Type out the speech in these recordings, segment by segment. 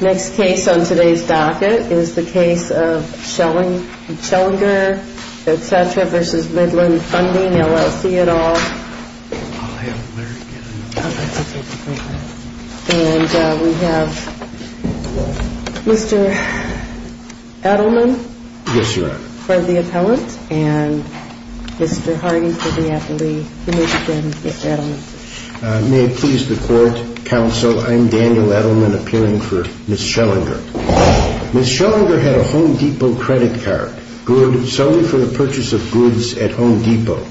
Next case on today's docket is the case of Schellenger v. Midland Funding, LLC et al. And we have Mr. Edelman for the appellant and Mr. Harden for the appellee. May it please the court, counsel, I'm Daniel Edelman appearing for Ms. Schellenger. Ms. Schellenger had a Home Depot credit card, good solely for the purchase of goods at Home Depot.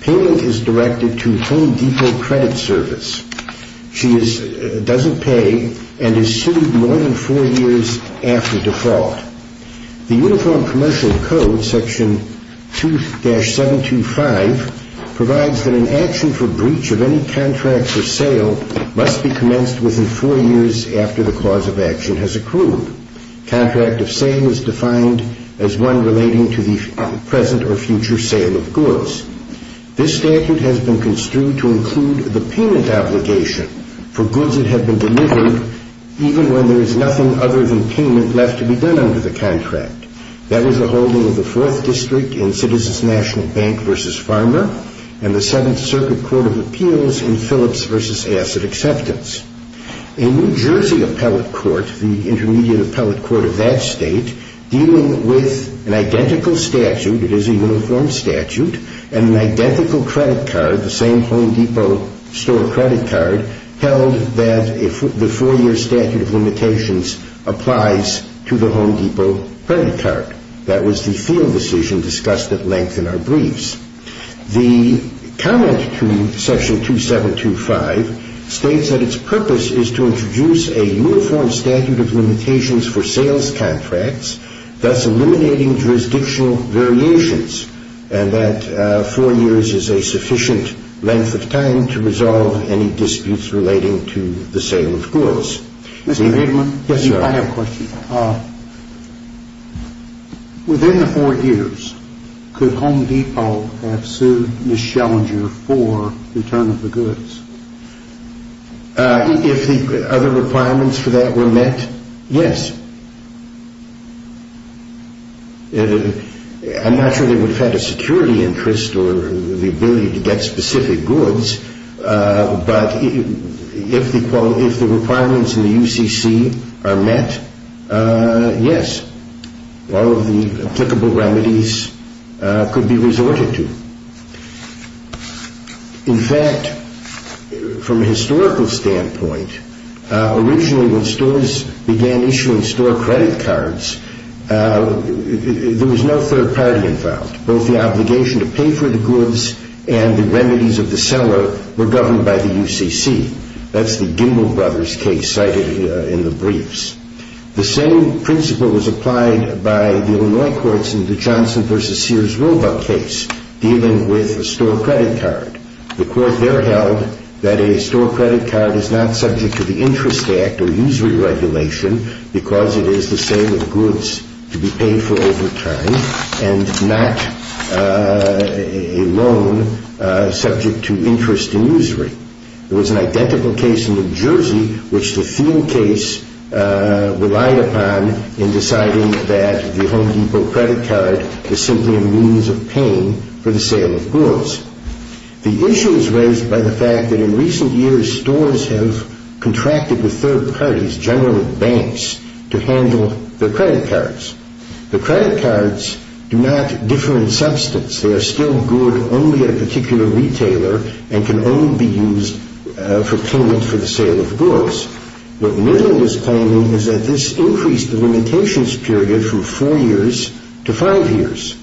Payment is directed to Home Depot Credit Service. She doesn't pay and is sued more than four years after default. The Uniform Commercial Code Section 2-725 provides that an action for breach of any contract for sale must be commenced within four years after the cause of action has accrued. Contract of sale is defined as one relating to the present or future sale of goods. This statute has been construed to include the payment obligation for goods that have been delivered even when there is nothing other than payment left to be done under the contract. That was the holding of the 4th District in Citizens National Bank v. Farmer and the 7th Circuit Court of Appeals in Phillips v. Asset Acceptance. A New Jersey appellate court, the intermediate appellate court of that state, dealing with an identical statute, it is a uniform statute, and an identical credit card, the same Home Depot store credit card, held that the four-year statute of limitations applies to the Home Depot credit card. That was the field decision discussed at length in our briefs. The comment to Section 2-725 states that its purpose is to introduce a uniform statute of limitations for sales contracts, thus eliminating jurisdictional variations, and that four years is a sufficient length of time to resolve any disputes relating to the sale of goods. I have a question. Within the four years, could Home Depot have sued Ms. Schellinger for return of the goods? If the other requirements for that were met, yes. I'm not sure they would have had a security interest or the ability to get specific goods, but if the requirements in the UCC are met, yes. All of the applicable remedies could be resorted to. In fact, from a historical standpoint, originally when stores began issuing store credit cards, there was no third party involved. Both the obligation to pay for the goods and the remedies of the seller were governed by the UCC. That's the Gimbel Brothers case cited in the briefs. The same principle was applied by the Illinois courts in the Johnson v. Sears Roebuck case dealing with a store credit card. The court there held that a store credit card is not subject to the Interest Act or usury regulation because it is the sale of goods to be paid for over time and not a loan subject to interest and usury. There was an identical case in New Jersey which the Thiel case relied upon in deciding that the Home Depot credit card is simply a means of paying for the sale of goods. The issue is raised by the fact that in recent years, stores have contracted with third parties, generally banks, to handle their credit cards. The credit cards do not differ in substance. They are still good only at a particular retailer and can only be used for payment for the sale of goods. What Midland is claiming is that this increased the limitations period from four years to five years.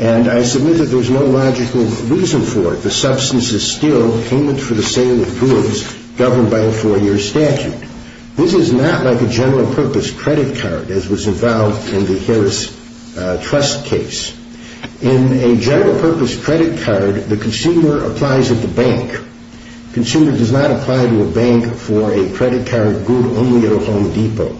And I submit that there's no logical reason for it. The substance is still payment for the sale of goods governed by a four-year statute. This is not like a general-purpose credit card as was involved in the Harris Trust case. In a general-purpose credit card, the consumer applies at the bank. The consumer does not apply to a bank for a credit card good only at a Home Depot.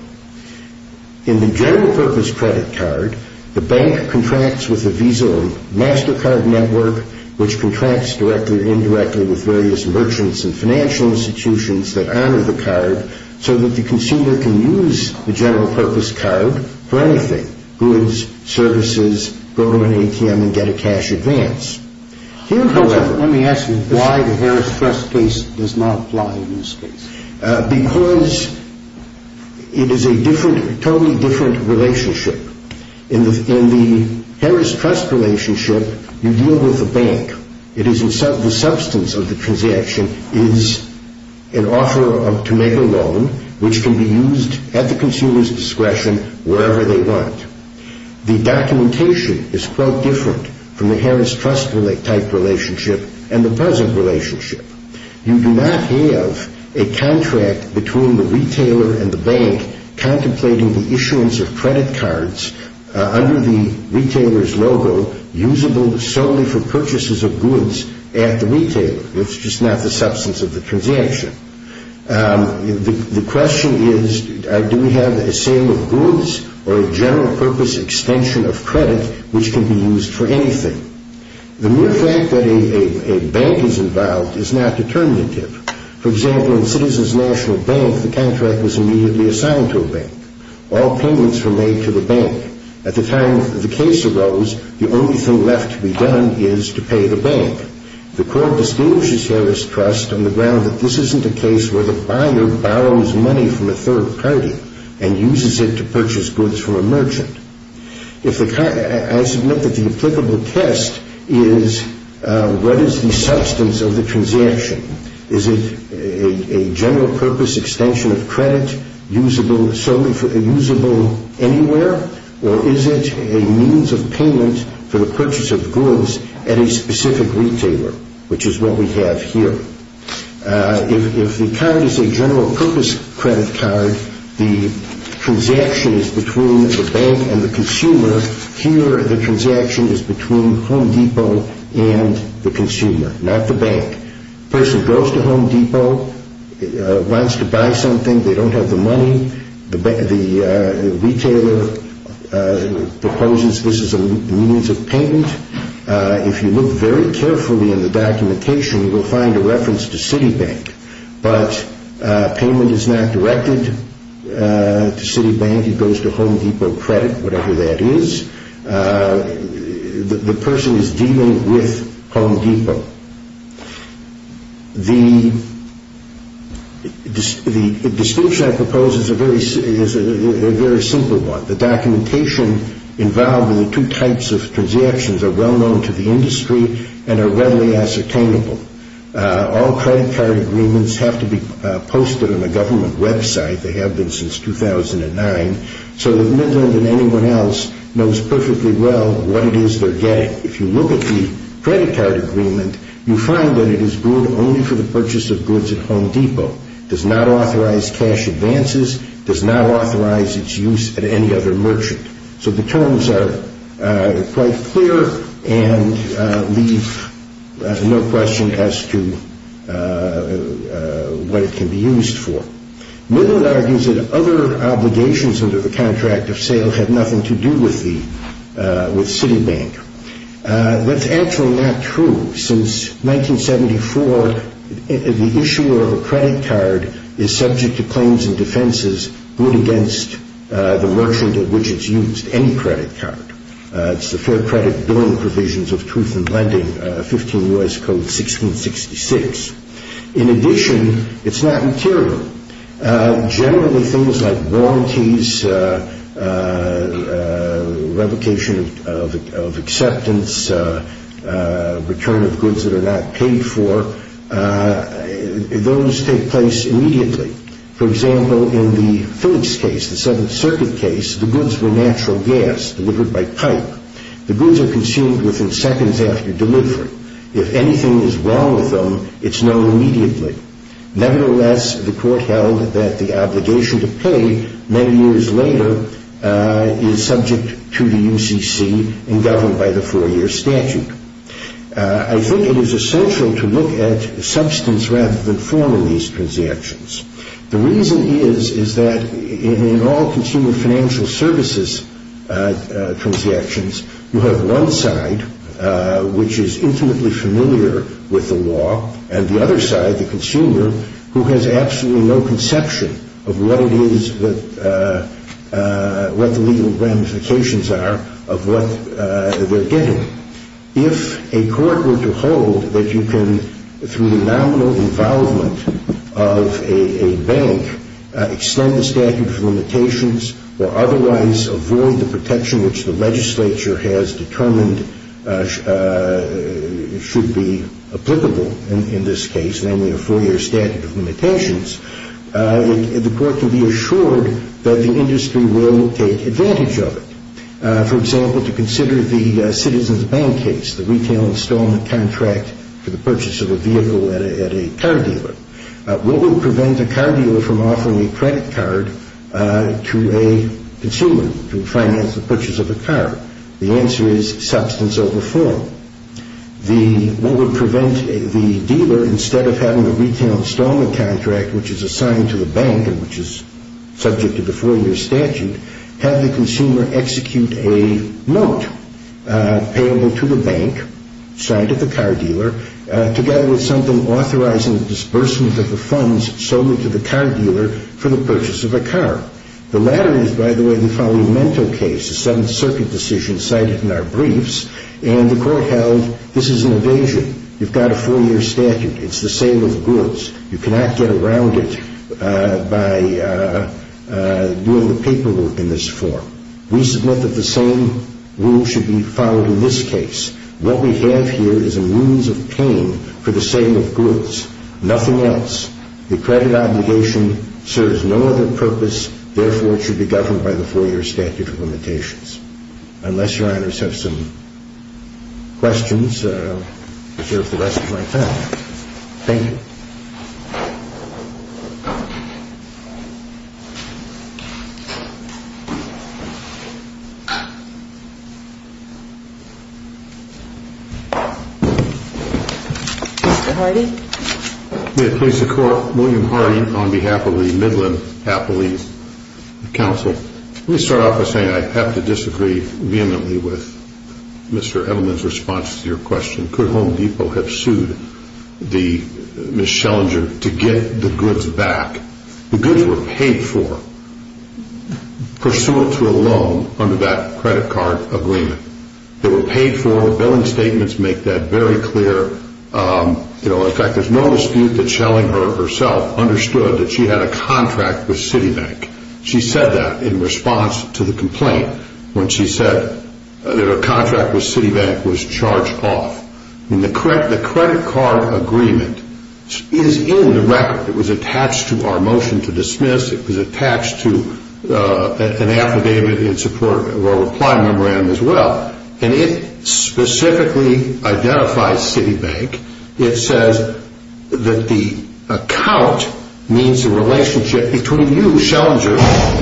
In the general-purpose credit card, the bank contracts with a Visa or MasterCard network, which contracts directly or indirectly with various merchants and financial institutions that honor the card, so that the consumer can use the general-purpose card for anything, goods, services, go to an ATM and get a cash advance. Let me ask you why the Harris Trust case does not apply in this case. Because it is a totally different relationship. In the Harris Trust relationship, you deal with the bank. The substance of the transaction is an offer to make a loan, which can be used at the consumer's discretion wherever they want. The documentation is quite different from the Harris Trust-type relationship and the present relationship. You do not have a contract between the retailer and the bank contemplating the issuance of credit cards under the retailer's logo usable solely for purchases of goods at the retailer. It's just not the substance of the transaction. The question is, do we have a sale of goods or a general-purpose extension of credit, which can be used for anything? The mere fact that a bank is involved is not determinative. For example, in Citizens National Bank, the contract was immediately assigned to a bank. All payments were made to the bank. At the time the case arose, the only thing left to be done is to pay the bank. The court distinguishes Harris Trust on the ground that this isn't a case where the buyer borrows money from a third party and uses it to purchase goods from a merchant. I submit that the applicable test is, what is the substance of the transaction? Is it a general-purpose extension of credit usable anywhere, or is it a means of payment for the purchase of goods at a specific retailer, which is what we have here? If the card is a general-purpose credit card, the transaction is between the bank and the consumer. Here, the transaction is between Home Depot and the consumer, not the bank. The person goes to Home Depot, wants to buy something. They don't have the money. The retailer proposes this is a means of payment. If you look very carefully in the documentation, you will find a reference to Citibank, but payment is not directed to Citibank. It goes to Home Depot Credit, whatever that is. The person is dealing with Home Depot. The distinction I propose is a very simple one. The documentation involved in the two types of transactions are well-known to the industry and are readily ascertainable. All credit card agreements have to be posted on the government website. They have been since 2009. So that Midland and anyone else knows perfectly well what it is they're getting. If you look at the credit card agreement, you find that it is good only for the purchase of goods at Home Depot. It does not authorize cash advances. It does not authorize its use at any other merchant. So the terms are quite clear and leave no question as to what it can be used for. Midland argues that other obligations under the contract of sale had nothing to do with Citibank. That's actually not true. Since 1974, the issuer of a credit card is subject to claims and defenses good against the merchant at which it's used, any credit card. It's the Fair Credit Billing Provisions of Truth in Lending, 15 U.S. Code 1666. In addition, it's not material. Generally, things like warranties, revocation of acceptance, return of goods that are not paid for, those take place immediately. For example, in the Phillips case, the Seventh Circuit case, the goods were natural gas delivered by pipe. The goods are consumed within seconds after delivery. If anything is wrong with them, it's known immediately. Nevertheless, the court held that the obligation to pay, many years later, is subject to the UCC and governed by the four-year statute. I think it is essential to look at substance rather than form in these transactions. The reason is that in all consumer financial services transactions, you have one side which is intimately familiar with the law and the other side, the consumer, who has absolutely no conception of what it is that, what the legal ramifications are of what they're getting. If a court were to hold that you can, through the nominal involvement of a bank, extend the statute for limitations or otherwise avoid the protection which the legislature has determined should be applicable in this case, namely a four-year statute of limitations, the court can be assured that the industry will take advantage of it. For example, to consider the Citizens Bank case, the retail installment contract for the purchase of a vehicle at a car dealer. What would prevent a car dealer from offering a credit card to a consumer to finance the purchase of a car? The answer is substance over form. What would prevent the dealer, instead of having a retail installment contract, which is assigned to the bank and which is subject to the four-year statute, have the consumer execute a note payable to the bank, signed at the car dealer, together with something authorizing the disbursement of the funds solely to the car dealer for the purchase of a car. The latter is, by the way, the Falimento case, a Seventh Circuit decision cited in our briefs, and the court held this is an evasion. You've got a four-year statute. It's the sale of goods. You cannot get around it by doing the paperwork in this form. We submit that the same rule should be followed in this case. What we have here is a means of paying for the sale of goods, nothing else. The credit obligation serves no other purpose. Therefore, it should be governed by the four-year statute of limitations. Unless Your Honors have some questions, I'll reserve the rest of my time. Thank you. Mr. Hardy? May it please the Court? William Hardy on behalf of the Midland Happily Council. Let me start off by saying I have to disagree vehemently with Mr. Edelman's response to your question. Could Home Depot have sued Ms. Schellinger to get the goods back? The goods were paid for pursuant to a loan under that credit card agreement. They were paid for. Your billing statements make that very clear. In fact, there's no dispute that Schellinger herself understood that she had a contract with Citibank. She said that in response to the complaint when she said that her contract with Citibank was charged off. The credit card agreement is in the record. It was attached to our motion to dismiss. It was attached to an affidavit in support of our reply memorandum as well. And it specifically identifies Citibank. It says that the account means the relationship between you, Schellinger,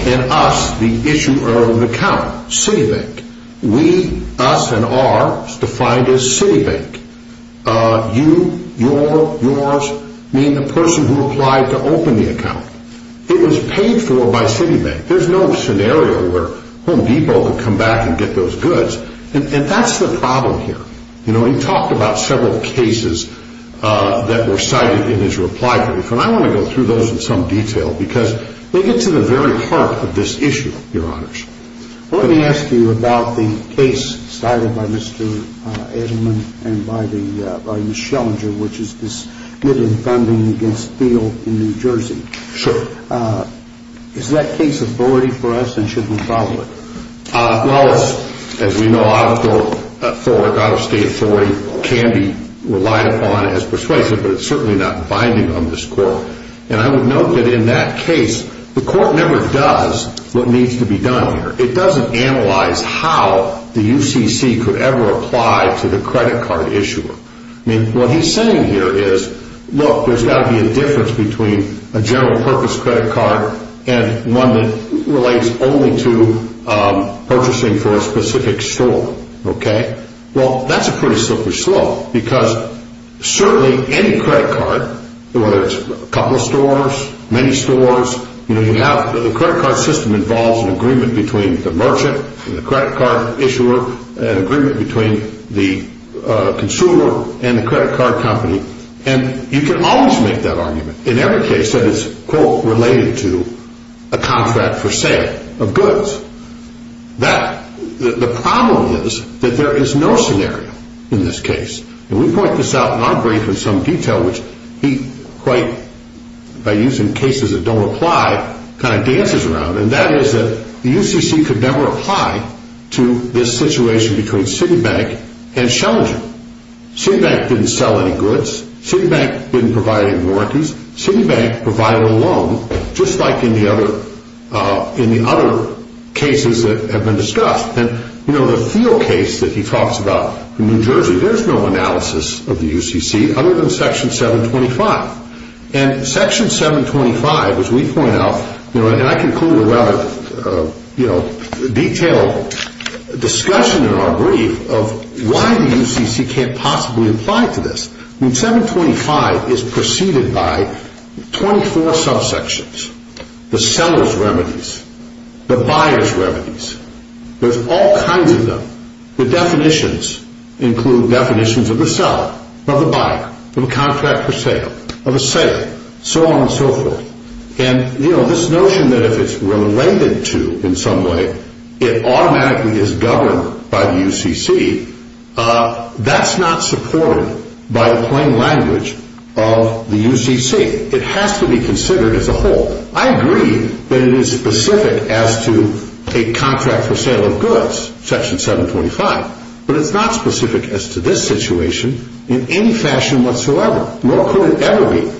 and us, the issuer of the account, Citibank. We, us, and our is defined as Citibank. You, your, yours mean the person who applied to open the account. It was paid for by Citibank. There's no scenario where Home Depot could come back and get those goods. And that's the problem here. You know, he talked about several cases that were cited in his reply brief. And I want to go through those in some detail because they get to the very heart of this issue, Your Honors. Let me ask you about the case cited by Mr. Edelman and by the Schellinger, which is this good in funding against Thiel in New Jersey. Sure. Is that case authority for us and should we follow it? Well, as we know, out-of-state authority can be relied upon as persuasive, but it's certainly not binding on this court. And I would note that in that case, the court never does what needs to be done here. It doesn't analyze how the UCC could ever apply to the credit card issuer. I mean, what he's saying here is, look, there's got to be a difference between a general-purpose credit card and one that relates only to purchasing for a specific store. Okay. Well, that's a pretty slippery slope because certainly any credit card, whether it's a couple of stores, many stores, you know, you have the credit card system involves an agreement between the merchant and the credit card issuer, an agreement between the consumer and the credit card company. And you can always make that argument in every case that it's, quote, related to a contract for sale of goods. The problem is that there is no scenario in this case. And we point this out in our brief in some detail, which he quite, by using cases that don't apply, kind of dances around. And that is that the UCC could never apply to this situation between Citibank and Schellinger. Citibank didn't sell any goods. Citibank didn't provide any warranties. Citibank provided a loan, just like in the other cases that have been discussed. And, you know, the Thiel case that he talks about in New Jersey, there's no analysis of the UCC other than Section 725. And Section 725, as we point out, you know, and I conclude a rather, you know, detailed discussion in our brief of why the UCC can't possibly apply to this. I mean, 725 is preceded by 24 subsections, the seller's remedies, the buyer's remedies. There's all kinds of them. The definitions include definitions of the seller, of the buyer, of a contract for sale, of a sale, so on and so forth. And, you know, this notion that if it's related to, in some way, it automatically is governed by the UCC, that's not supported by the plain language of the UCC. It has to be considered as a whole. I agree that it is specific as to a contract for sale of goods, Section 725, but it's not specific as to this situation in any fashion whatsoever, nor could it ever be.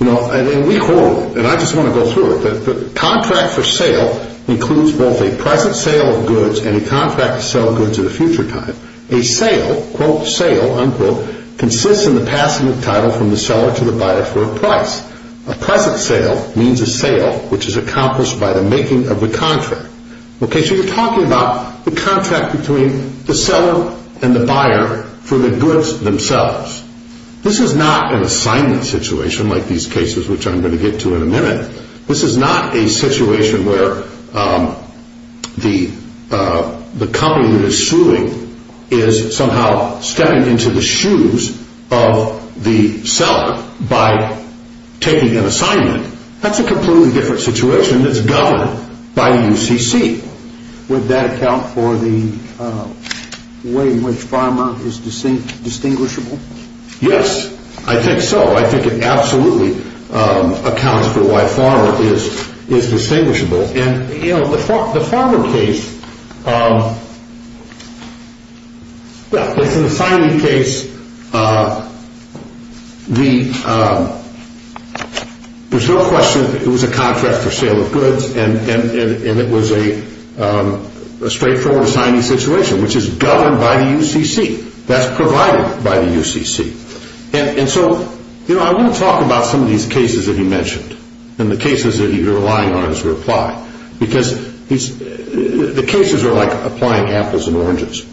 You know, and we hold, and I just want to go through it, that the contract for sale includes both a present sale of goods and a contract to sell goods at a future time. A sale, quote, sale, unquote, consists in the passing of the title from the seller to the buyer for a price. A present sale means a sale which is accomplished by the making of the contract. Okay, so you're talking about the contract between the seller and the buyer for the goods themselves. This is not an assignment situation like these cases which I'm going to get to in a minute. This is not a situation where the company that is suing is somehow stepping into the shoes of the seller by taking an assignment. That's a completely different situation that's governed by the UCC. Would that account for the way in which pharma is distinguishable? Yes, I think so. I think it absolutely accounts for why pharma is distinguishable. And, you know, the pharma case, well, it's an assignee case. There's no question it was a contract for sale of goods, and it was a straightforward assignee situation which is governed by the UCC. That's provided by the UCC. And so, you know, I want to talk about some of these cases that he mentioned and the cases that you're relying on his reply. Because the cases are like applying apples and oranges.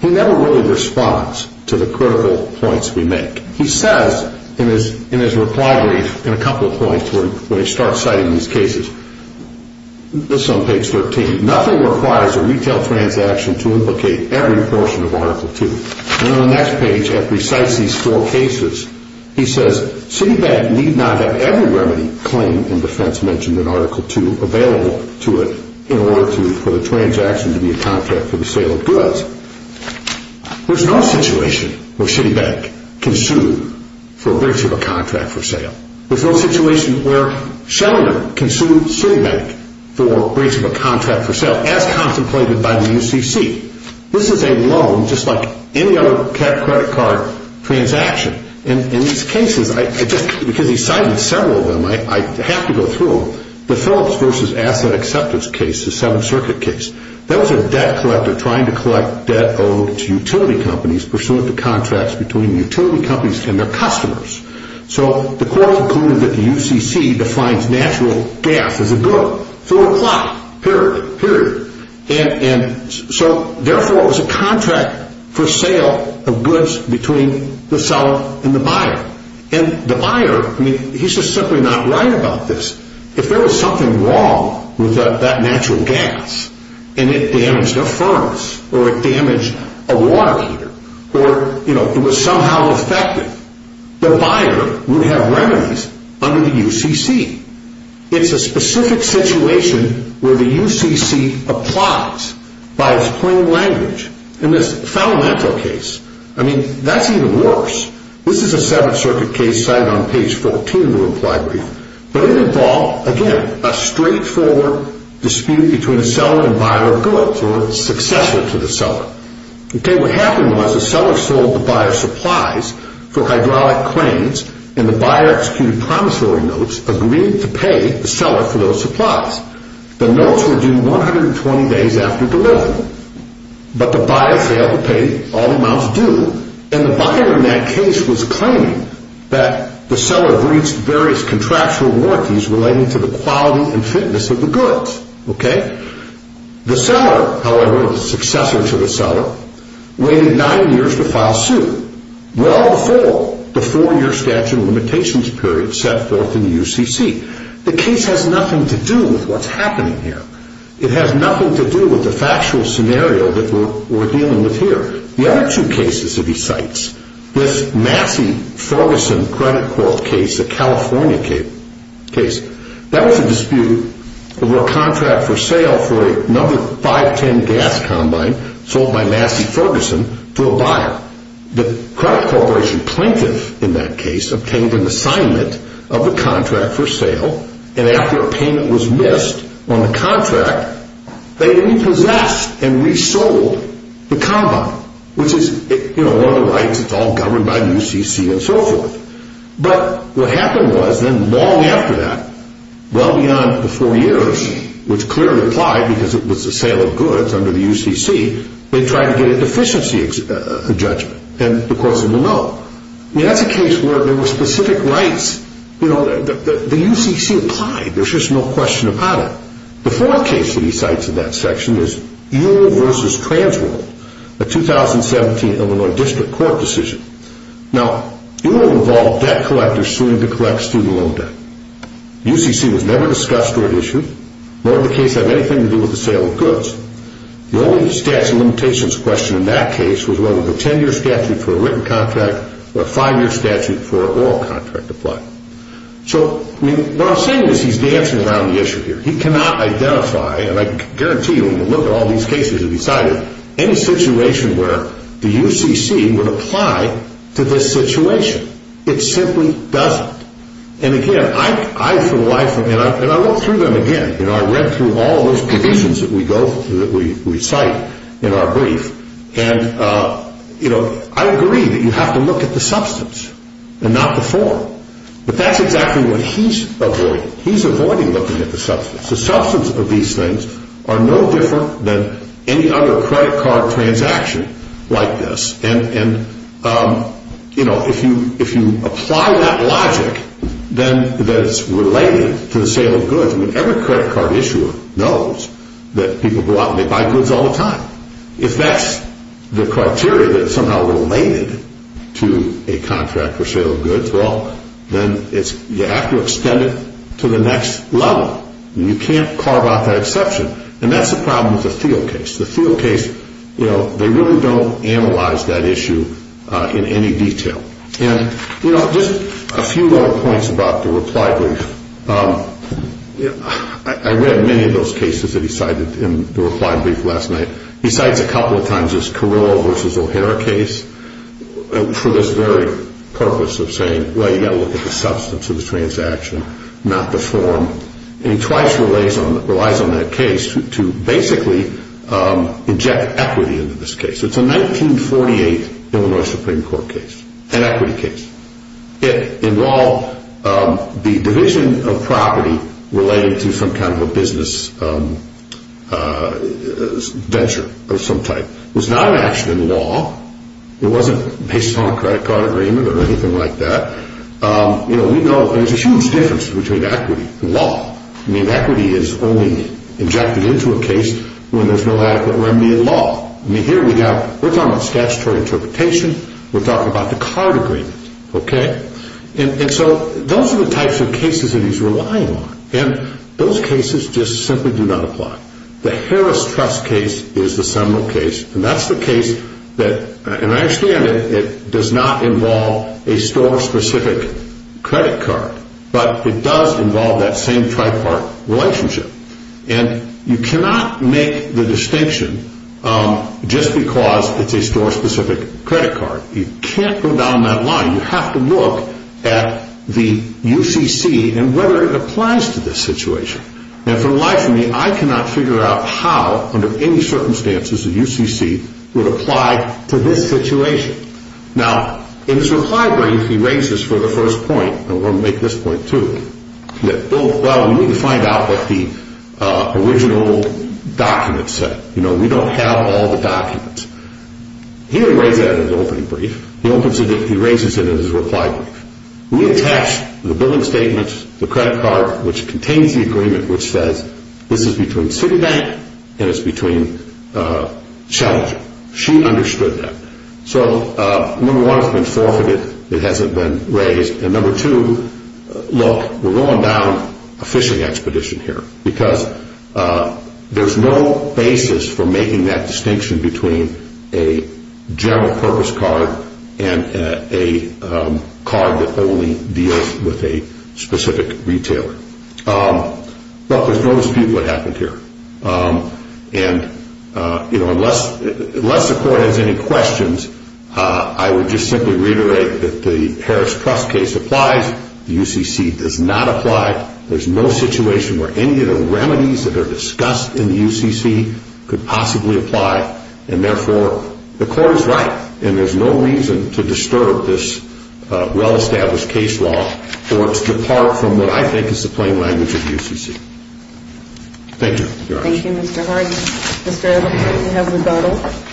He never really responds to the critical points we make. He says in his reply brief in a couple of points where he starts citing these cases. This is on page 13. Nothing requires a retail transaction to implicate every portion of Article 2. And on the next page, after he cites these four cases, he says Citibank need not have every remedy claim in defense mentioned in Article 2 available to it in order for the transaction to be a contract for the sale of goods. There's no situation where Citibank can sue for breach of a contract for sale. There's no situation where Schellinger can sue Citibank for breach of a contract for sale as contemplated by the UCC. This is a loan just like any other credit card transaction. In these cases, because he cited several of them, I have to go through them. The Phillips v. Asset Acceptance case, the Seventh Circuit case. That was a debt collector trying to collect debt owed to utility companies pursuant to contracts between utility companies and their customers. So the court concluded that the UCC defines natural gas as a good through a plot. Period. Period. And so, therefore, it was a contract for sale of goods between the seller and the buyer. And the buyer, I mean, he's just simply not right about this. If there was something wrong with that natural gas and it damaged a furnace or it damaged a water heater or, you know, it was somehow affected, the buyer would have remedies under the UCC. It's a specific situation where the UCC applies by its plain language. In this Falamento case, I mean, that's even worse. This is a Seventh Circuit case cited on page 14 of the reply brief. But it involved, again, a straightforward dispute between a seller and buyer of goods or successor to the seller. Okay, what happened was the seller sold the buyer supplies for hydraulic cranes and the buyer executed promissory notes, agreed to pay the seller for those supplies. The notes were due 120 days after delivery. But the buyer failed to pay all the amounts due. And the buyer in that case was claiming that the seller breached various contractual warranties relating to the quality and fitness of the goods. The seller, however, the successor to the seller, waited nine years to file suit, well before the four-year statute of limitations period set forth in the UCC. The case has nothing to do with what's happening here. It has nothing to do with the factual scenario that we're dealing with here. The other two cases that he cites, this Massey-Ferguson credit court case, a California case, that was a dispute over a contract for sale for another 510 gas combine sold by Massey-Ferguson to a buyer. The credit corporation plaintiff in that case obtained an assignment of the contract for sale. And after a payment was missed on the contract, they repossessed and resold the combine, which is one of the rights that's all governed by the UCC and so forth. But what happened was then long after that, well beyond the four years, which clearly applied because it was a sale of goods under the UCC, they tried to get a deficiency judgment. And the court said no. I mean, that's a case where there were specific rights. The UCC applied. There's just no question about it. The fourth case that he cites in that section is Ewell v. Transworld, a 2017 Illinois District Court decision. Now, Ewell involved debt collectors suing to collect student loan debt. UCC was never discussed or issued, nor did the case have anything to do with the sale of goods. The only statute of limitations question in that case was whether the 10-year statute for a written contract or a 5-year statute for an oral contract applied. So what I'm saying is he's dancing around the issue here. He cannot identify, and I guarantee you when you look at all these cases that he cited, any situation where the UCC would apply to this situation. It simply doesn't. And again, I for the life of me, and I look through them again. I read through all those provisions that we cite in our brief. And I agree that you have to look at the substance and not the form. But that's exactly what he's avoiding. He's avoiding looking at the substance. The substance of these things are no different than any other credit card transaction like this. And if you apply that logic, then that's related to the sale of goods. Every credit card issuer knows that people go out and they buy goods all the time. If that's the criteria that's somehow related to a contract for sale of goods, well, then you have to extend it to the next level. You can't carve out that exception. And that's the problem with the Thiel case. The Thiel case, they really don't analyze that issue in any detail. And just a few more points about the reply brief. I read many of those cases that he cited in the reply brief last night. He cites a couple of times this Carrillo v. O'Hara case for this very purpose of saying, well, you've got to look at the substance of the transaction, not the form. And he twice relies on that case to basically inject equity into this case. It's a 1948 Illinois Supreme Court case, an equity case. It involved the division of property related to some kind of a business venture of some type. It was not an action in law. It wasn't based on a credit card agreement or anything like that. There's a huge difference between equity and law. Equity is only injected into a case when there's no adequate remedy in law. Here we're talking about statutory interpretation. We're talking about the card agreement. And so those are the types of cases that he's relying on. And those cases just simply do not apply. The Harris Trust case is the seminal case. And that's the case that, and I understand it does not involve a store-specific credit card. But it does involve that same tripartite relationship. And you cannot make the distinction just because it's a store-specific credit card. You can't go down that line. You have to look at the UCC and whether it applies to this situation. And for the life of me, I cannot figure out how, under any circumstances, the UCC would apply to this situation. Now, in his reply brief, he raises for the first point, and we're going to make this point too, that, well, we need to find out what the original document said. You know, we don't have all the documents. He didn't raise that in his opening brief. He opens it, he raises it in his reply brief. We attached the billing statements, the credit card, which contains the agreement, which says this is between Citibank and it's between Challenger. She understood that. So, number one, it's been forfeited. It hasn't been raised. And number two, look, we're going down a fishing expedition here. Because there's no basis for making that distinction between a general-purpose card and a card that only deals with a specific retailer. But there's no dispute what happened here. And, you know, unless the court has any questions, I would just simply reiterate that the Harris Trust case applies. The UCC does not apply. There's no situation where any of the remedies that are discussed in the UCC could possibly apply. And, therefore, the court is right, and there's no reason to disturb this well-established case law or to depart from what I think is the plain language of UCC. Thank you. Thank you, Mr. Harden. Mr. Edelman, you have rebuttal.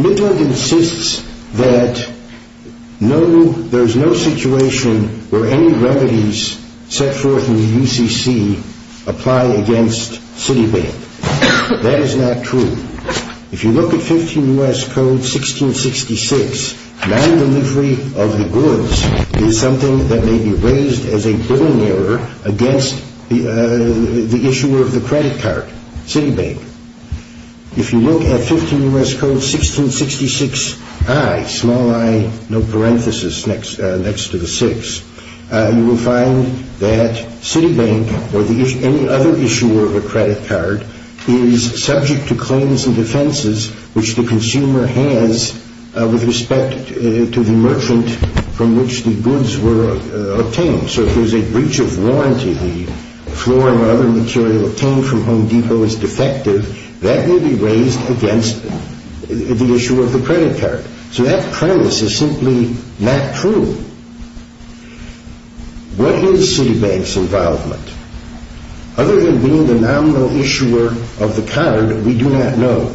Midland insists that no, there's no situation where any remedies set forth in the UCC apply against Citibank. That is not true. If you look at 15 U.S. Code 1666, non-delivery of the goods is something that may be raised as a billing error against the issuer of the credit card, Citibank. If you look at 15 U.S. Code 1666i, small i, no parenthesis next to the six, you will find that Citibank or any other issuer of a credit card is subject to claims and defenses which the consumer has with respect to the merchant from which the goods were obtained. So if there's a breach of warranty, the floor and other material obtained from Home Depot is defective, that may be raised against the issuer of the credit card. So that premise is simply not true. What is Citibank's involvement? Other than being the nominal issuer of the card, we do not know.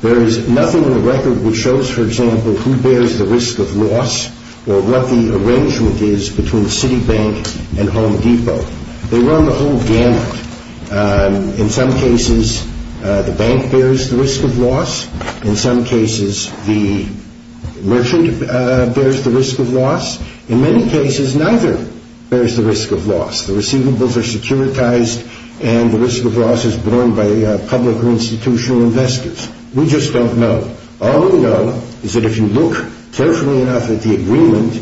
There is nothing in the record which shows, for example, who bears the risk of loss or what the arrangement is between Citibank and Home Depot. They run the whole gamut. In some cases, the bank bears the risk of loss. In some cases, the merchant bears the risk of loss. In many cases, neither bears the risk of loss. The receivables are securitized, and the risk of loss is borne by public or institutional investors. We just don't know. All we know is that if you look carefully enough at the agreement,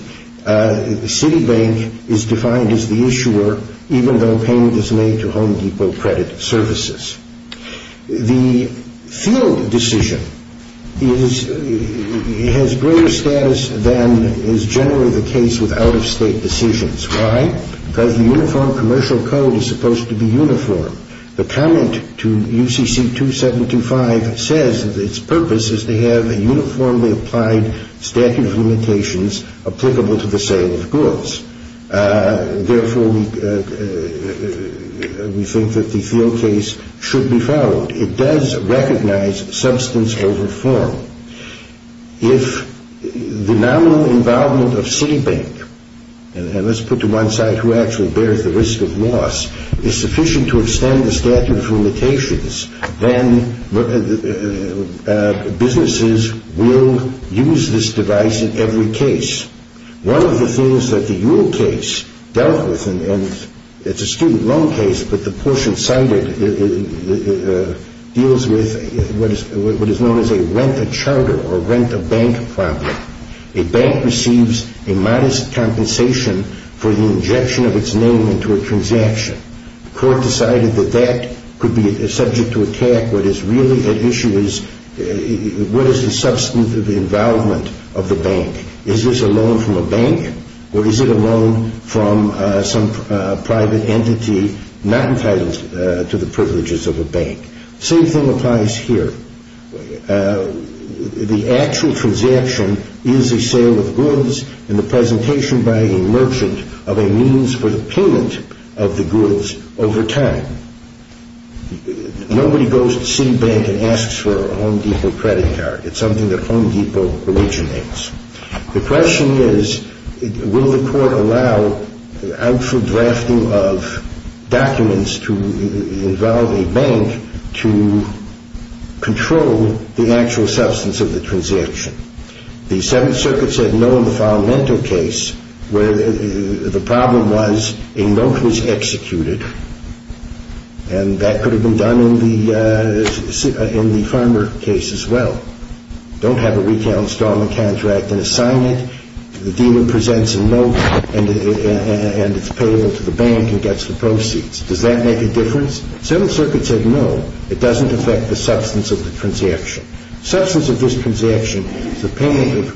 Citibank is defined as the issuer even though payment is made to Home Depot Credit Services. The field decision has greater status than is generally the case with out-of-state decisions. Why? Because the Uniform Commercial Code is supposed to be uniform. The comment to UCC 2725 says that its purpose is to have a uniformly applied statute of limitations applicable to the sale of goods. Therefore, we think that the field case should be followed. It does recognize substance over form. If the nominal involvement of Citibank, and let's put to one side who actually bears the risk of loss, is sufficient to extend the statute of limitations, then businesses will use this device in every case. One of the things that the Yule case dealt with, and it's a student loan case, but the portion cited deals with what is known as a rent-a-charter or rent-a-bank problem. A bank receives a modest compensation for the injection of its name into a transaction. The court decided that that could be subject to attack. What is really at issue is what is the substantive involvement of the bank. Is this a loan from a bank? Or is it a loan from some private entity not entitled to the privileges of a bank? Same thing applies here. The actual transaction is a sale of goods in the presentation by a merchant of a means for the payment of the goods over time. Nobody goes to Citibank and asks for a Home Depot credit card. It's something that Home Depot originates. The question is, will the court allow the actual drafting of documents to involve a bank to control the actual substance of the transaction? The Seventh Circuit said no in the Falamento case, where the problem was a note was executed, and that could have been done in the Farmer case as well. Don't have a retail installment contract, an assignment, the dealer presents a note and it's paid to the bank and gets the proceeds. Does that make a difference? The Seventh Circuit said no. It doesn't affect the substance of the transaction. The substance of this transaction is the payment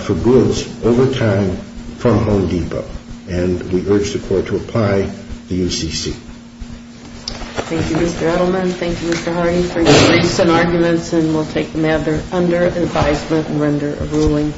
for goods over time from Home Depot, and we urge the court to apply the UCC. Thank you, Mr. Edelman. Thank you, Mr. Hardy, for your briefs and arguments, and we'll take them under advisement and render a ruling.